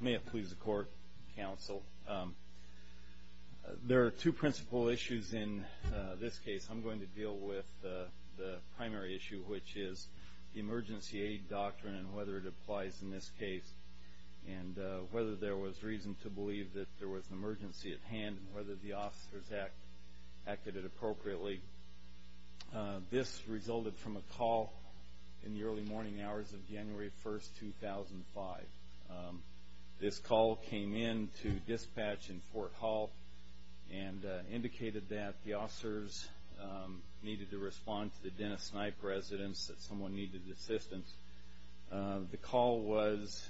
May it please the court, counsel. There are two principal issues in this case. I'm going to deal with the primary issue, which is the emergency aid doctrine and whether it applies in this case, and whether there was reason to believe that there was an emergency at hand and whether the officers acted appropriately. This resulted from a call in the early morning hours of January 1, 2005. This call came in to dispatch in Fort Hall and indicated that the officers needed to respond to the Dennis Snipe residence, that someone needed assistance. The call was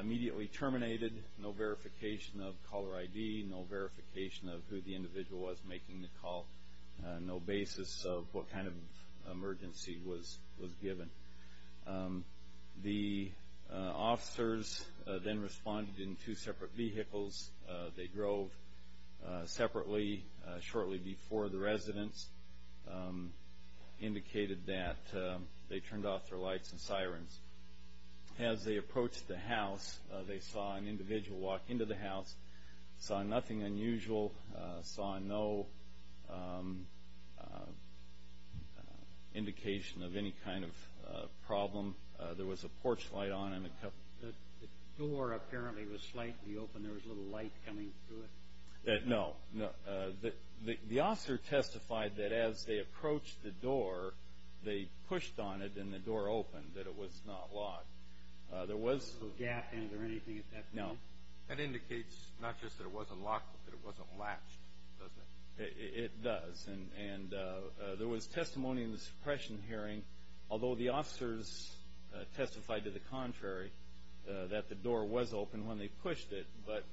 immediately terminated, no verification of caller ID, no verification of who the individual was making the call, no basis of what kind of emergency was given. The officers then responded in two separate vehicles. They drove separately shortly before the residence, indicated that they turned off their lights and sirens. As they approached the house, they saw an open door. There was no indication of any kind of problem. There was a porch light on and a couple... The door apparently was slightly open. There was a little light coming through it? No. The officer testified that as they approached the door, they pushed on it and the door opened, that it was not locked. There was... No gap in it or anything at that point? No. That indicates not just that it wasn't locked, but that it wasn't latched, doesn't it? It does. There was testimony in the suppression hearing, although the officers testified to the contrary, that the door was open when they pushed it, but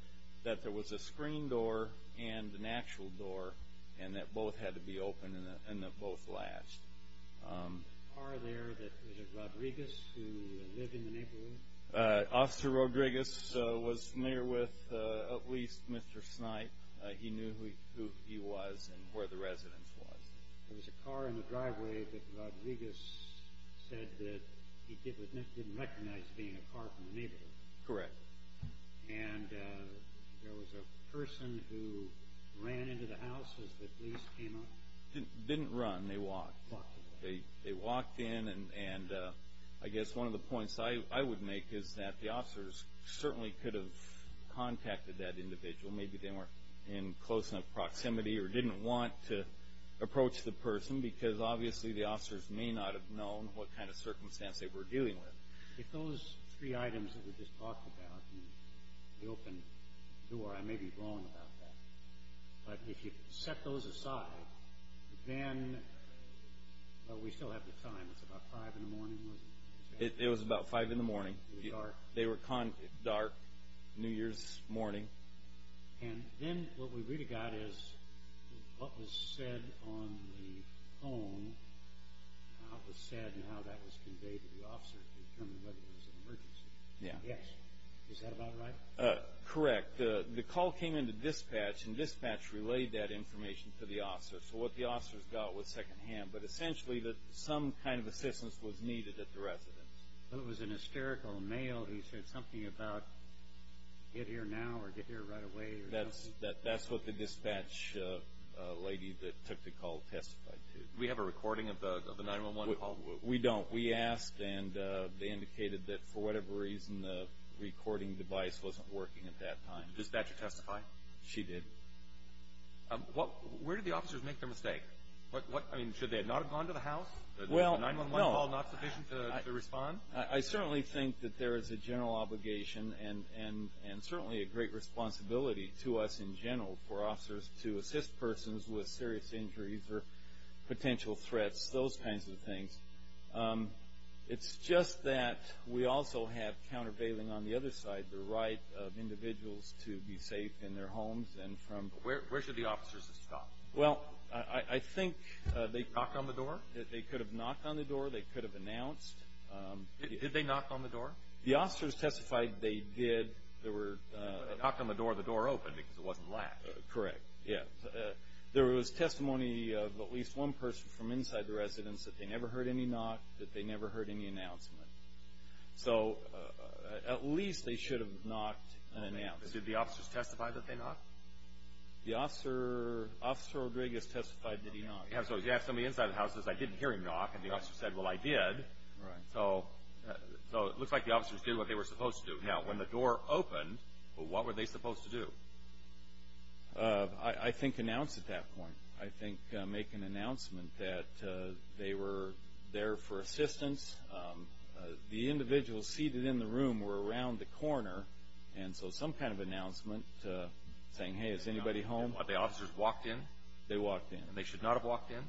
that there was a screen door and an actual door and that both had to be open and that both latched. Officer Rodriguez was familiar with at least Mr. Snipe. He knew who he was and where the residence was. There was a car in the driveway that Rodriguez said that he didn't recognize being a car from the neighborhood. Correct. And there was a person who ran into the house as the police came up? Didn't run. They walked. Walked away. They walked in and I guess one of the points I would make is that the officers certainly could have contacted that individual. Maybe they weren't in close enough proximity or didn't want to approach the person because obviously the officers may not have known what kind of circumstance they were dealing with. If those three items that we just talked about, the open door, I may be wrong about that, but if you set those aside, then, we still have the time, it's about 5 in the morning, wasn't it? It was about 5 in the morning. It was dark. They were dark, New Year's morning. And then what we really got is what was said on the phone, how it was said and how that was conveyed to the officer to determine whether it was an emergency. Yeah. Yes. Is that about right? It was dark. It was dark. It was dark. It was dark. It was dark. It was dark. It was dark. And the dispatch relayed that information to the officer. So what the officers got was second hand, but essentially that some kind of assistance was needed at the residence. It was an hysterical mail. He said something about, get here now or get here right away. That's what the dispatch lady that took the call testified to. We have a recording of the 911 call? We don't. We asked and they indicated that for whatever reason the recording device wasn't working at that time. Okay. Okay. Okay. Okay. Okay. Okay. Okay. Okay. Okay. Okay. Okay. Okay. Okay. Okay. Okay. Okay. Okay. Where did the officers make their mistake? What, I mean, should they not have gone to the house? Well. The 911 call not sufficient to respond? I certainly think that there is a general obligation and certainly a great responsibility to us in general for officers to assist persons with serious injuries or potential threats, those kinds of things. It's just that we also have countervailing on the other side, the right of individuals to be safe in their homes and from. Where should the officers have stopped? Well, I think they. Knocked on the door? They could have knocked on the door. They could have announced. Did they knock on the door? The officers testified they did. There were. They knocked on the door and the door opened because it wasn't locked. Correct. Yeah. There was testimony of at least one person from inside the residence that they never heard any knock, that they never heard any announcement. So, at least they should have knocked and announced. Did the officers testify that they knocked? The officer. Officer Rodriguez testified that he knocked. Yeah. So, he asked somebody inside the house. He says, I didn't hear him knock. And the officer said, well, I did. Right. So. So, it looks like the officers did what they were supposed to do. Now, when the door opened, what were they supposed to do? I think announce at that point. I think make an announcement that they were there for assistance. The individuals seated in the room were around the corner. And so, some kind of announcement saying, hey, is anybody home? What, the officers walked in? They walked in. And they should not have walked in?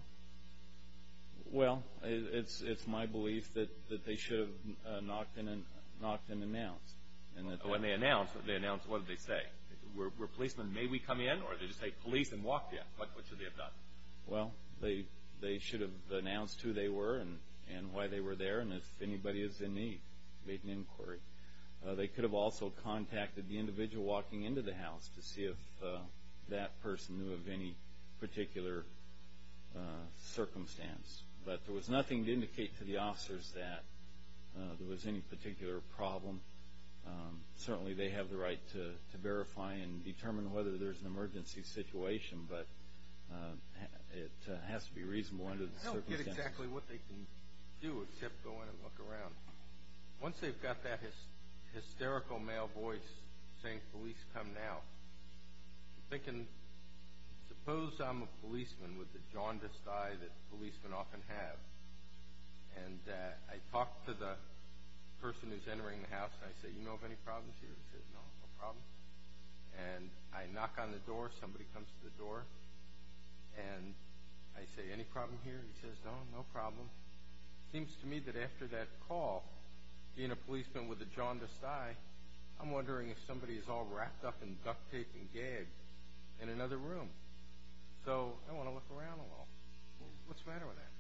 Well, it's my belief that they should have knocked and announced. And when they announced, they announced, what did they say? Were policemen, may we come in? Or did they just say, police and walk in? What should they have done? Well, they should have announced who they were and why they were there. And if anybody is in need, make an inquiry. They could have also contacted the individual walking into the house to see if that person knew of any particular circumstance. But there was nothing to indicate to the officers that there was any particular problem. Certainly they have the right to verify and determine whether there's an emergency situation. But it has to be reasonable under the circumstances. I don't get exactly what they can do except go in and look around. Once they've got that hysterical male voice saying, police, come now, I'm thinking, suppose I'm a policeman with the jaundiced eye that policemen often have. And I talk to the person who's entering the house, and I say, you know of any problems here? He says, no, no problem. And I knock on the door, somebody comes to the door, and I say, any problem here? He says, no, no problem. Seems to me that after that call, being a policeman with a jaundiced eye, I'm wondering if somebody is all wrapped up in duct tape and gagged in another room. So I want to look around a little. What's the matter with that?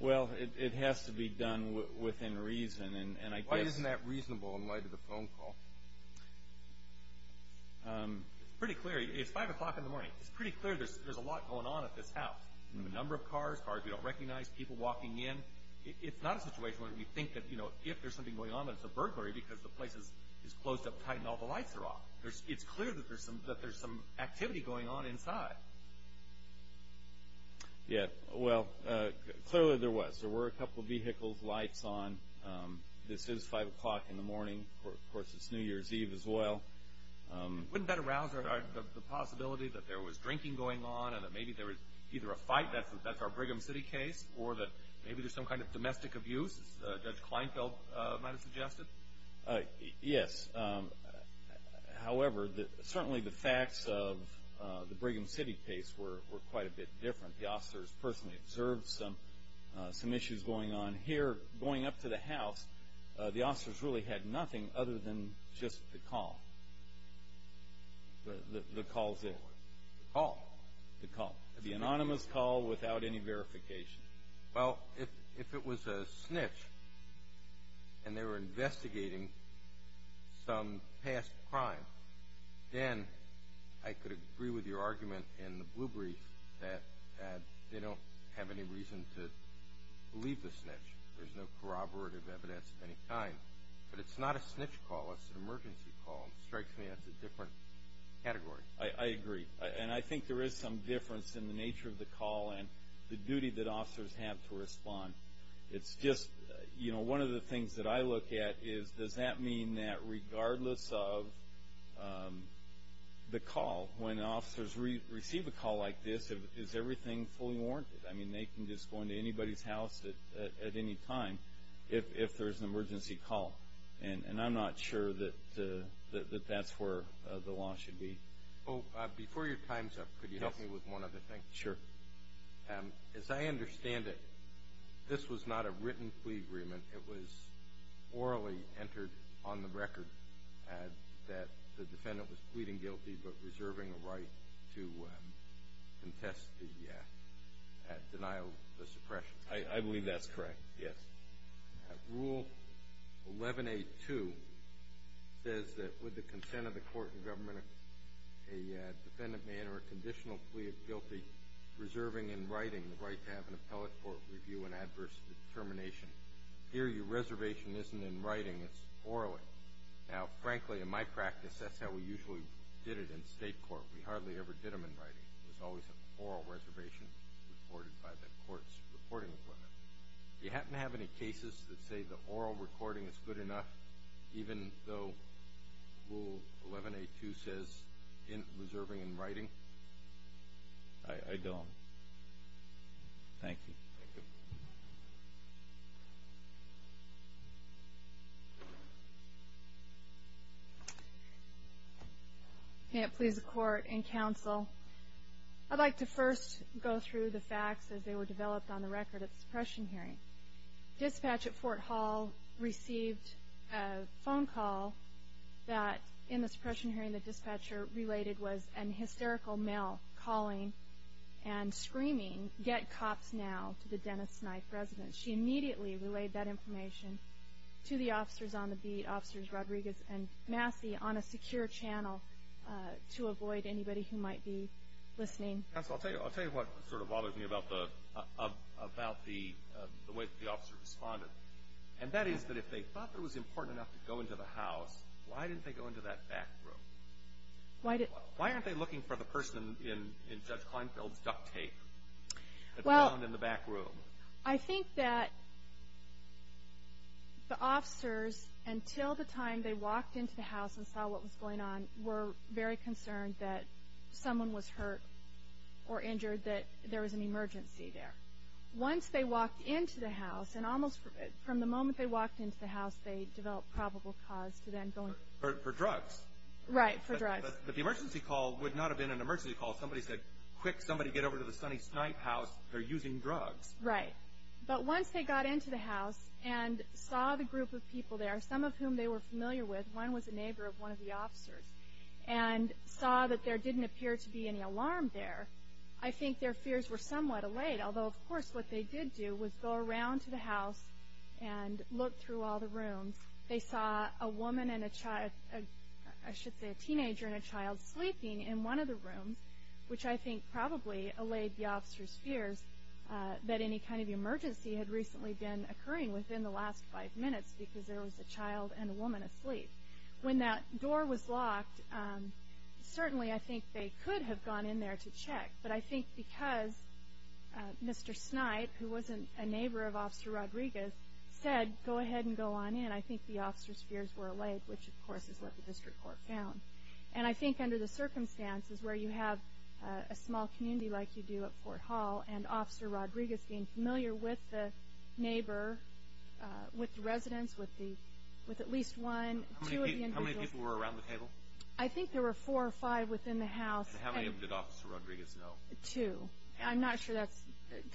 Well, it has to be done within reason, and I guess- It's pretty clear, it's 5 o'clock in the morning, it's pretty clear there's a lot going on at this house. The number of cars, cars we don't recognize, people walking in. It's not a situation where we think that if there's something going on that it's a burglary because the place is closed up tight and all the lights are off. It's clear that there's some activity going on inside. Yeah, well, clearly there was. There were a couple of vehicles, lights on. This is 5 o'clock in the morning, of course it's New Year's Eve as well. Wouldn't that arouse the possibility that there was drinking going on, and that maybe there was either a fight, that's our Brigham City case, or that maybe there's some kind of domestic abuse, as Judge Kleinfeld might have suggested? Yes. However, certainly the facts of the Brigham City case were quite a bit different. The officers personally observed some issues going on here. Going up to the house, the officers really had nothing other than just the call. The calls in. The call? The call. The anonymous call without any verification. Well, if it was a snitch, and they were investigating some past crime, then I could agree with your argument in the blue brief that they don't have any reason to believe the snitch. There's no corroborative evidence at any time. But it's not a snitch call, it's an emergency call, and it strikes me as a different category. I agree, and I think there is some difference in the nature of the call and the duty that officers have to respond. It's just, you know, one of the things that I look at is, does that mean that regardless of the call, when officers receive a call like this, is everything fully warranted? I mean, they can just go into anybody's house at any time if there's an emergency call. And I'm not sure that that's where the law should be. Oh, before your time's up, could you help me with one other thing? Sure. As I understand it, this was not a written plea agreement, it was orally entered on the I believe that's correct, yes. Rule 11-A-2 says that with the consent of the court and government, a defendant may enter a conditional plea of guilty, reserving in writing the right to have an appellate court review an adverse determination. Here, your reservation isn't in writing, it's orally. Now, frankly, in my practice, that's how we usually did it in state court. We hardly ever did them in writing. It was always an oral reservation reported by the court's reporting equipment. Do you happen to have any cases that say the oral recording is good enough, even though Rule 11-A-2 says in reserving in writing? Thank you. Thank you. May it please the court and counsel, I'd like to first go through the facts as they were developed on the record of the suppression hearing. Dispatch at Fort Hall received a phone call that in the suppression hearing the dispatcher related was an hysterical male calling and screaming, get cops now, to the Dennis Knife residence. She immediately relayed that information to the officers on the beat, Officers Rodriguez and Massey, on a secure channel to avoid anybody who might be listening. Counsel, I'll tell you what sort of bothers me about the way the officer responded, and that is that if they thought it was important enough to go into the house, why didn't they go into that back room? Why aren't they looking for the person in Judge Kleinfeld's duct tape that was found in the back room? I think that the officers, until the time they walked into the house and saw what was going on, were very concerned that someone was hurt or injured, that there was an emergency there. Once they walked into the house, and almost from the moment they walked into the house they developed probable cause to then going. For drugs. Right, for drugs. But the emergency call would not have been an emergency call. Somebody said, quick, somebody get over to the Sonny Snipe house, they're using drugs. Right, but once they got into the house and saw the group of people there, some of whom they were familiar with, one was a neighbor of one of the officers, and saw that there didn't appear to be any alarm there, I think their fears were somewhat allayed, although of course what they did do was go around to the house and look through all the rooms. They saw a woman and a child, I should say a teenager and a child sleeping in one of the rooms, which I think probably allayed the officers' fears that any kind of emergency had recently been occurring within the last five minutes because there was a child and a woman asleep. When that door was locked, certainly I think they could have gone in there to check, but I think because Mr. Snipe, who was a neighbor of Officer Rodriguez, said go ahead and go on in, I think the officers' fears were allayed, which of course is what the district court found. And I think under the circumstances where you have a small community like you do at Fort Hall, and Officer Rodriguez being familiar with the neighbor, with the residents, with at least one, two of the individuals. How many people were around the table? I think there were four or five within the house. And how many did Officer Rodriguez know? Two. I'm not sure that's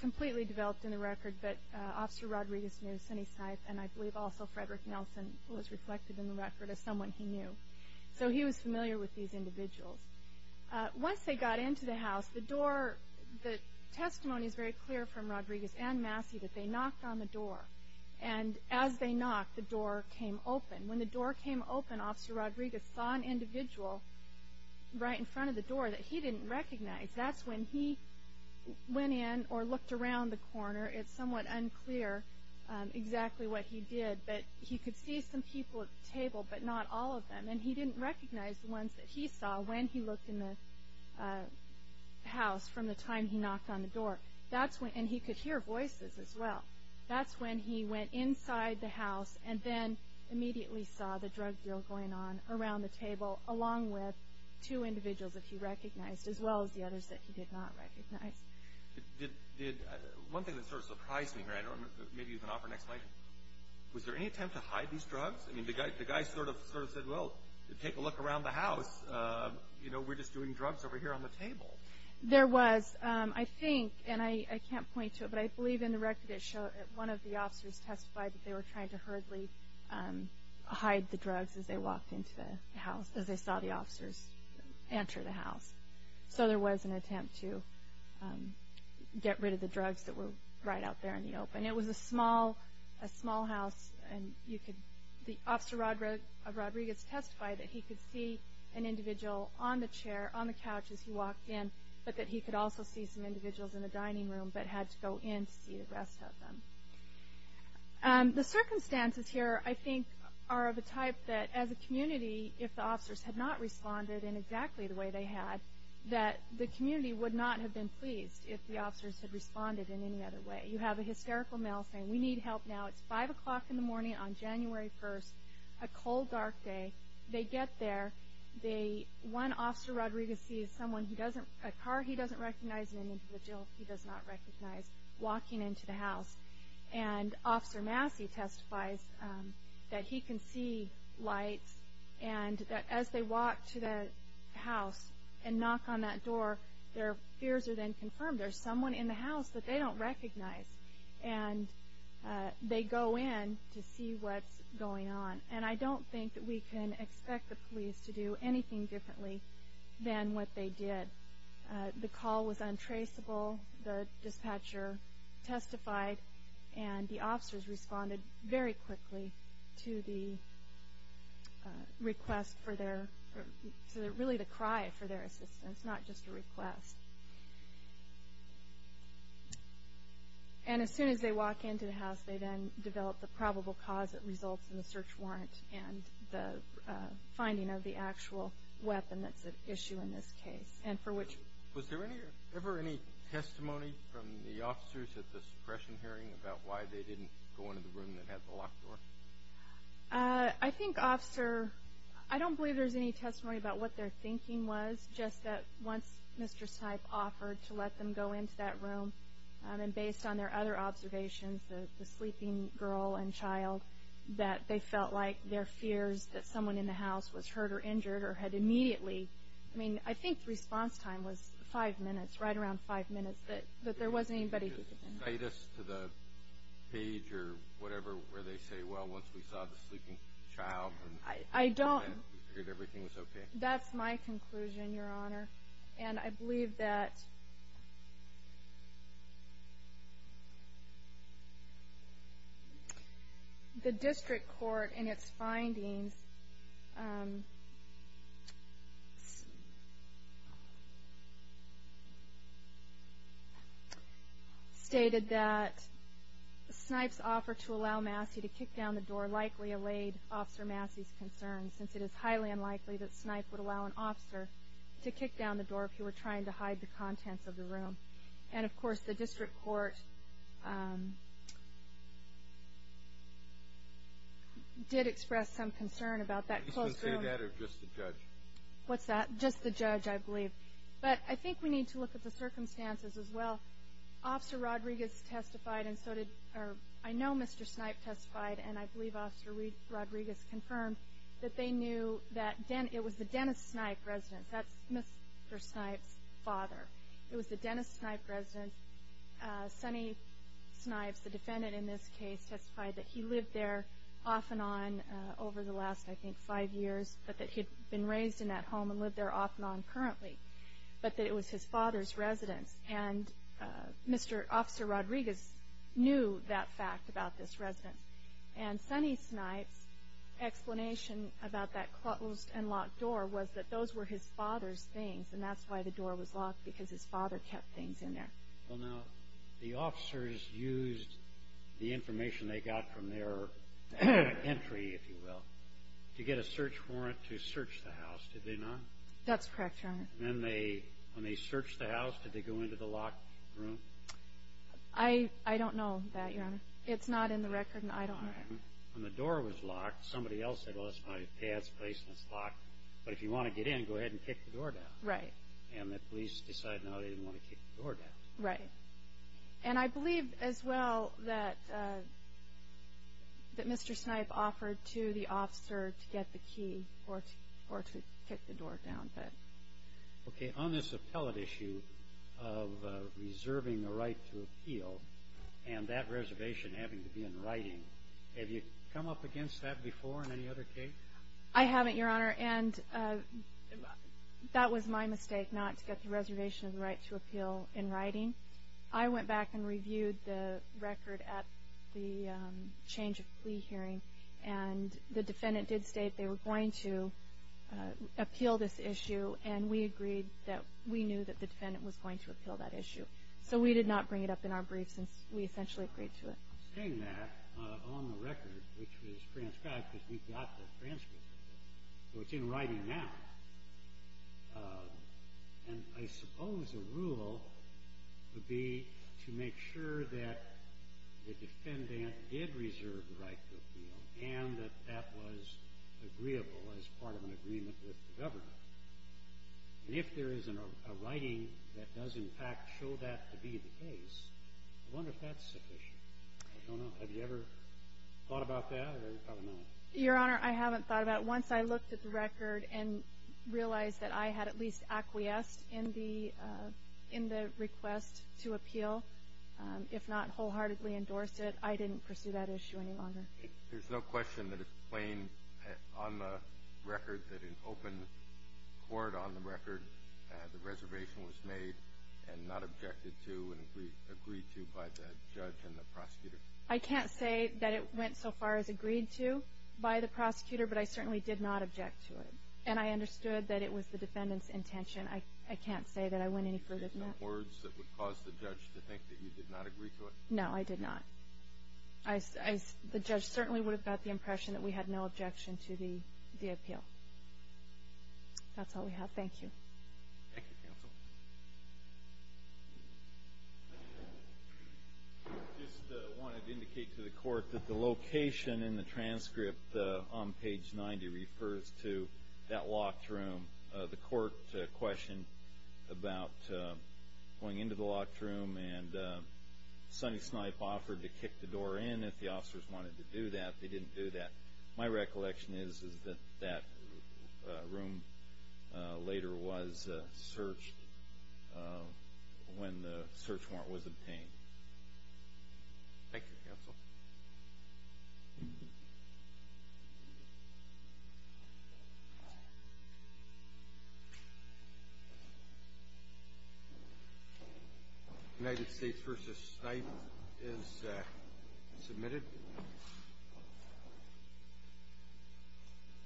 completely developed in the record, but Officer Rodriguez knew Sonny Snipe, and I believe also Frederick Nelson was reflected in the record as someone he knew. So he was familiar with these individuals. Once they got into the house, the door, the testimony is very clear from Rodriguez and Massey that they knocked on the door. And as they knocked, the door came open. When the door came open, Officer Rodriguez saw an individual right in front of the door that he didn't recognize. That's when he went in or looked around the corner. It's somewhat unclear exactly what he did, but he could see some people at the table, but not all of them. And he didn't recognize the ones that he saw when he looked in the house from the time he knocked on the door. And he could hear voices as well. That's when he went inside the house and then immediately saw the drug deal going on around the table, along with two individuals that he recognized, as well as the others that he did not recognize. One thing that sort of surprised me here, and maybe you can offer an explanation, was there any attempt to hide these drugs? I mean, the guy sort of said, well, take a look around the house. You know, we're just doing drugs over here on the table. There was. I think, and I can't point to it, but I believe in the record it showed that one of the officers testified that they were trying to hurriedly hide the drugs as they walked into the house, as they saw the officers enter the house. So there was an attempt to get rid of the drugs that were right out there in the open. It was a small, a small house, and you could, Officer Rodriguez testified that he could see an individual on the chair, on the couch as he walked in, but that he could also see some individuals in the dining room, but had to go in to see the rest of them. The circumstances here, I think, are of a type that as a community, if the officers had not that the community would not have been pleased if the officers had responded in any other way. You have a hysterical male saying, we need help now. It's 5 o'clock in the morning on January 1st, a cold, dark day. They get there. They, one Officer Rodriguez sees someone who doesn't, a car he doesn't recognize, an individual he does not recognize, walking into the house, and Officer Massey testifies that he can see lights, and that as they walk to the house and knock on that door, their fears are then confirmed. There's someone in the house that they don't recognize, and they go in to see what's going on. And I don't think that we can expect the police to do anything differently than what they did. The call was untraceable. The dispatcher testified, and the officers responded very quickly to the request for their, really the cry for their assistance, not just a request. And as soon as they walk into the house, they then develop the probable cause that results in the search warrant and the finding of the actual weapon that's at issue in this case. Was there ever any testimony from the officers at the suppression hearing about why they didn't go into the room that had the locked door? I think, Officer, I don't believe there's any testimony about what their thinking was, just that once Mr. Snipe offered to let them go into that room, and based on their other observations, the sleeping girl and child, that they felt like their fears that someone in the house was hurt or injured or had immediately, I mean, I think the response time was five minutes, right around five minutes, but there wasn't anybody who could tell me. Could you cite us to the page or whatever where they say, well, once we saw the sleeping child, we figured everything was okay. That's my conclusion, Your Honor, and I believe that the District Court, in its findings, stated that Snipe's offer to allow Massey to kick down the door likely allayed Officer Massey's concerns, since it is highly unlikely that Snipe would allow an officer to kick down the door if he were trying to hide the contents of the room. And, of course, the District Court did express some concern about that close room. Did you say that or just the judge? What's that? Just the judge, I believe. But I think we need to look at the circumstances as well. Officer Rodriguez testified, and so did, or I know Mr. Snipe testified, and I believe Officer Rodriguez confirmed that they knew that it was the Dennis Snipe residence. That's Mr. Snipe's father. It was the Dennis Snipe residence. Sonny Snipes, the defendant in this case, testified that he lived there off and on over the last, I think, five years, but that he'd been raised in that home and lived there off and on currently, but that it was his father's residence. And Mr. Officer Rodriguez knew that fact about this residence. And Sonny Snipes' explanation about that closed and locked door was that those were his father's things, and that's why the door was locked, because his father kept things in there. Well, now, the officers used the information they got from their entry, if you will, to get a search warrant to search the house, did they not? That's correct, Your Honor. And when they searched the house, did they go into the locked room? I don't know that, Your Honor. It's not in the record, and I don't know. When the door was locked, somebody else said, well, it's my dad's place, and it's locked, but if you want to get in, go ahead and kick the door down. Right. And the police decided no, they didn't want to kick the door down. Right. And I believe as well that Mr. Snipes offered to the officer to get the key or to kick the door down. Okay. On this appellate issue of reserving the right to appeal and that reservation having to be in writing, have you come up against that before in any other case? I haven't, Your Honor. And that was my mistake not to get the reservation of the right to appeal in writing. I went back and reviewed the record at the change of plea hearing, and the defendant did state they were going to appeal this issue, and we agreed that we knew that the defendant was going to appeal that issue. So we did not bring it up in our brief since we essentially agreed to it. I'm saying that on the record, which was transcribed because we got the transcript of it. So it's in writing now. And I suppose a rule would be to make sure that the defendant did reserve the right to appeal and that that was agreeable as part of an agreement with the government. And if there is a writing that does, in fact, show that to be the case, I wonder if that's sufficient. I don't know. Have you ever thought about that or not? Your Honor, I haven't thought about it. Once I looked at the record and realized that I had at least acquiesced in the request to appeal, if not wholeheartedly endorsed it, I didn't pursue that issue any longer. There's no question that it's plain on the record that in open court on the record, the reservation was made and not objected to and agreed to by the judge and the prosecutor? I can't say that it went so far as agreed to by the prosecutor, but I certainly did not object to it. And I understood that it was the defendant's intention. I can't say that I went any further than that. There's no words that would cause the judge to think that you did not agree to it? No, I did not. The judge certainly would have got the impression that we had no objection to the appeal. That's all we have. Thank you. Thank you, counsel. I just wanted to indicate to the Court that the location in the transcript on page 90 refers to that locked room. The Court questioned about going into the locked room, and Sonny Snipe offered to kick the door in if the officers wanted to do that. They didn't do that. My recollection is that that room later was searched when the search warrant was obtained. Thank you, counsel. United States v. Snipe is submitted.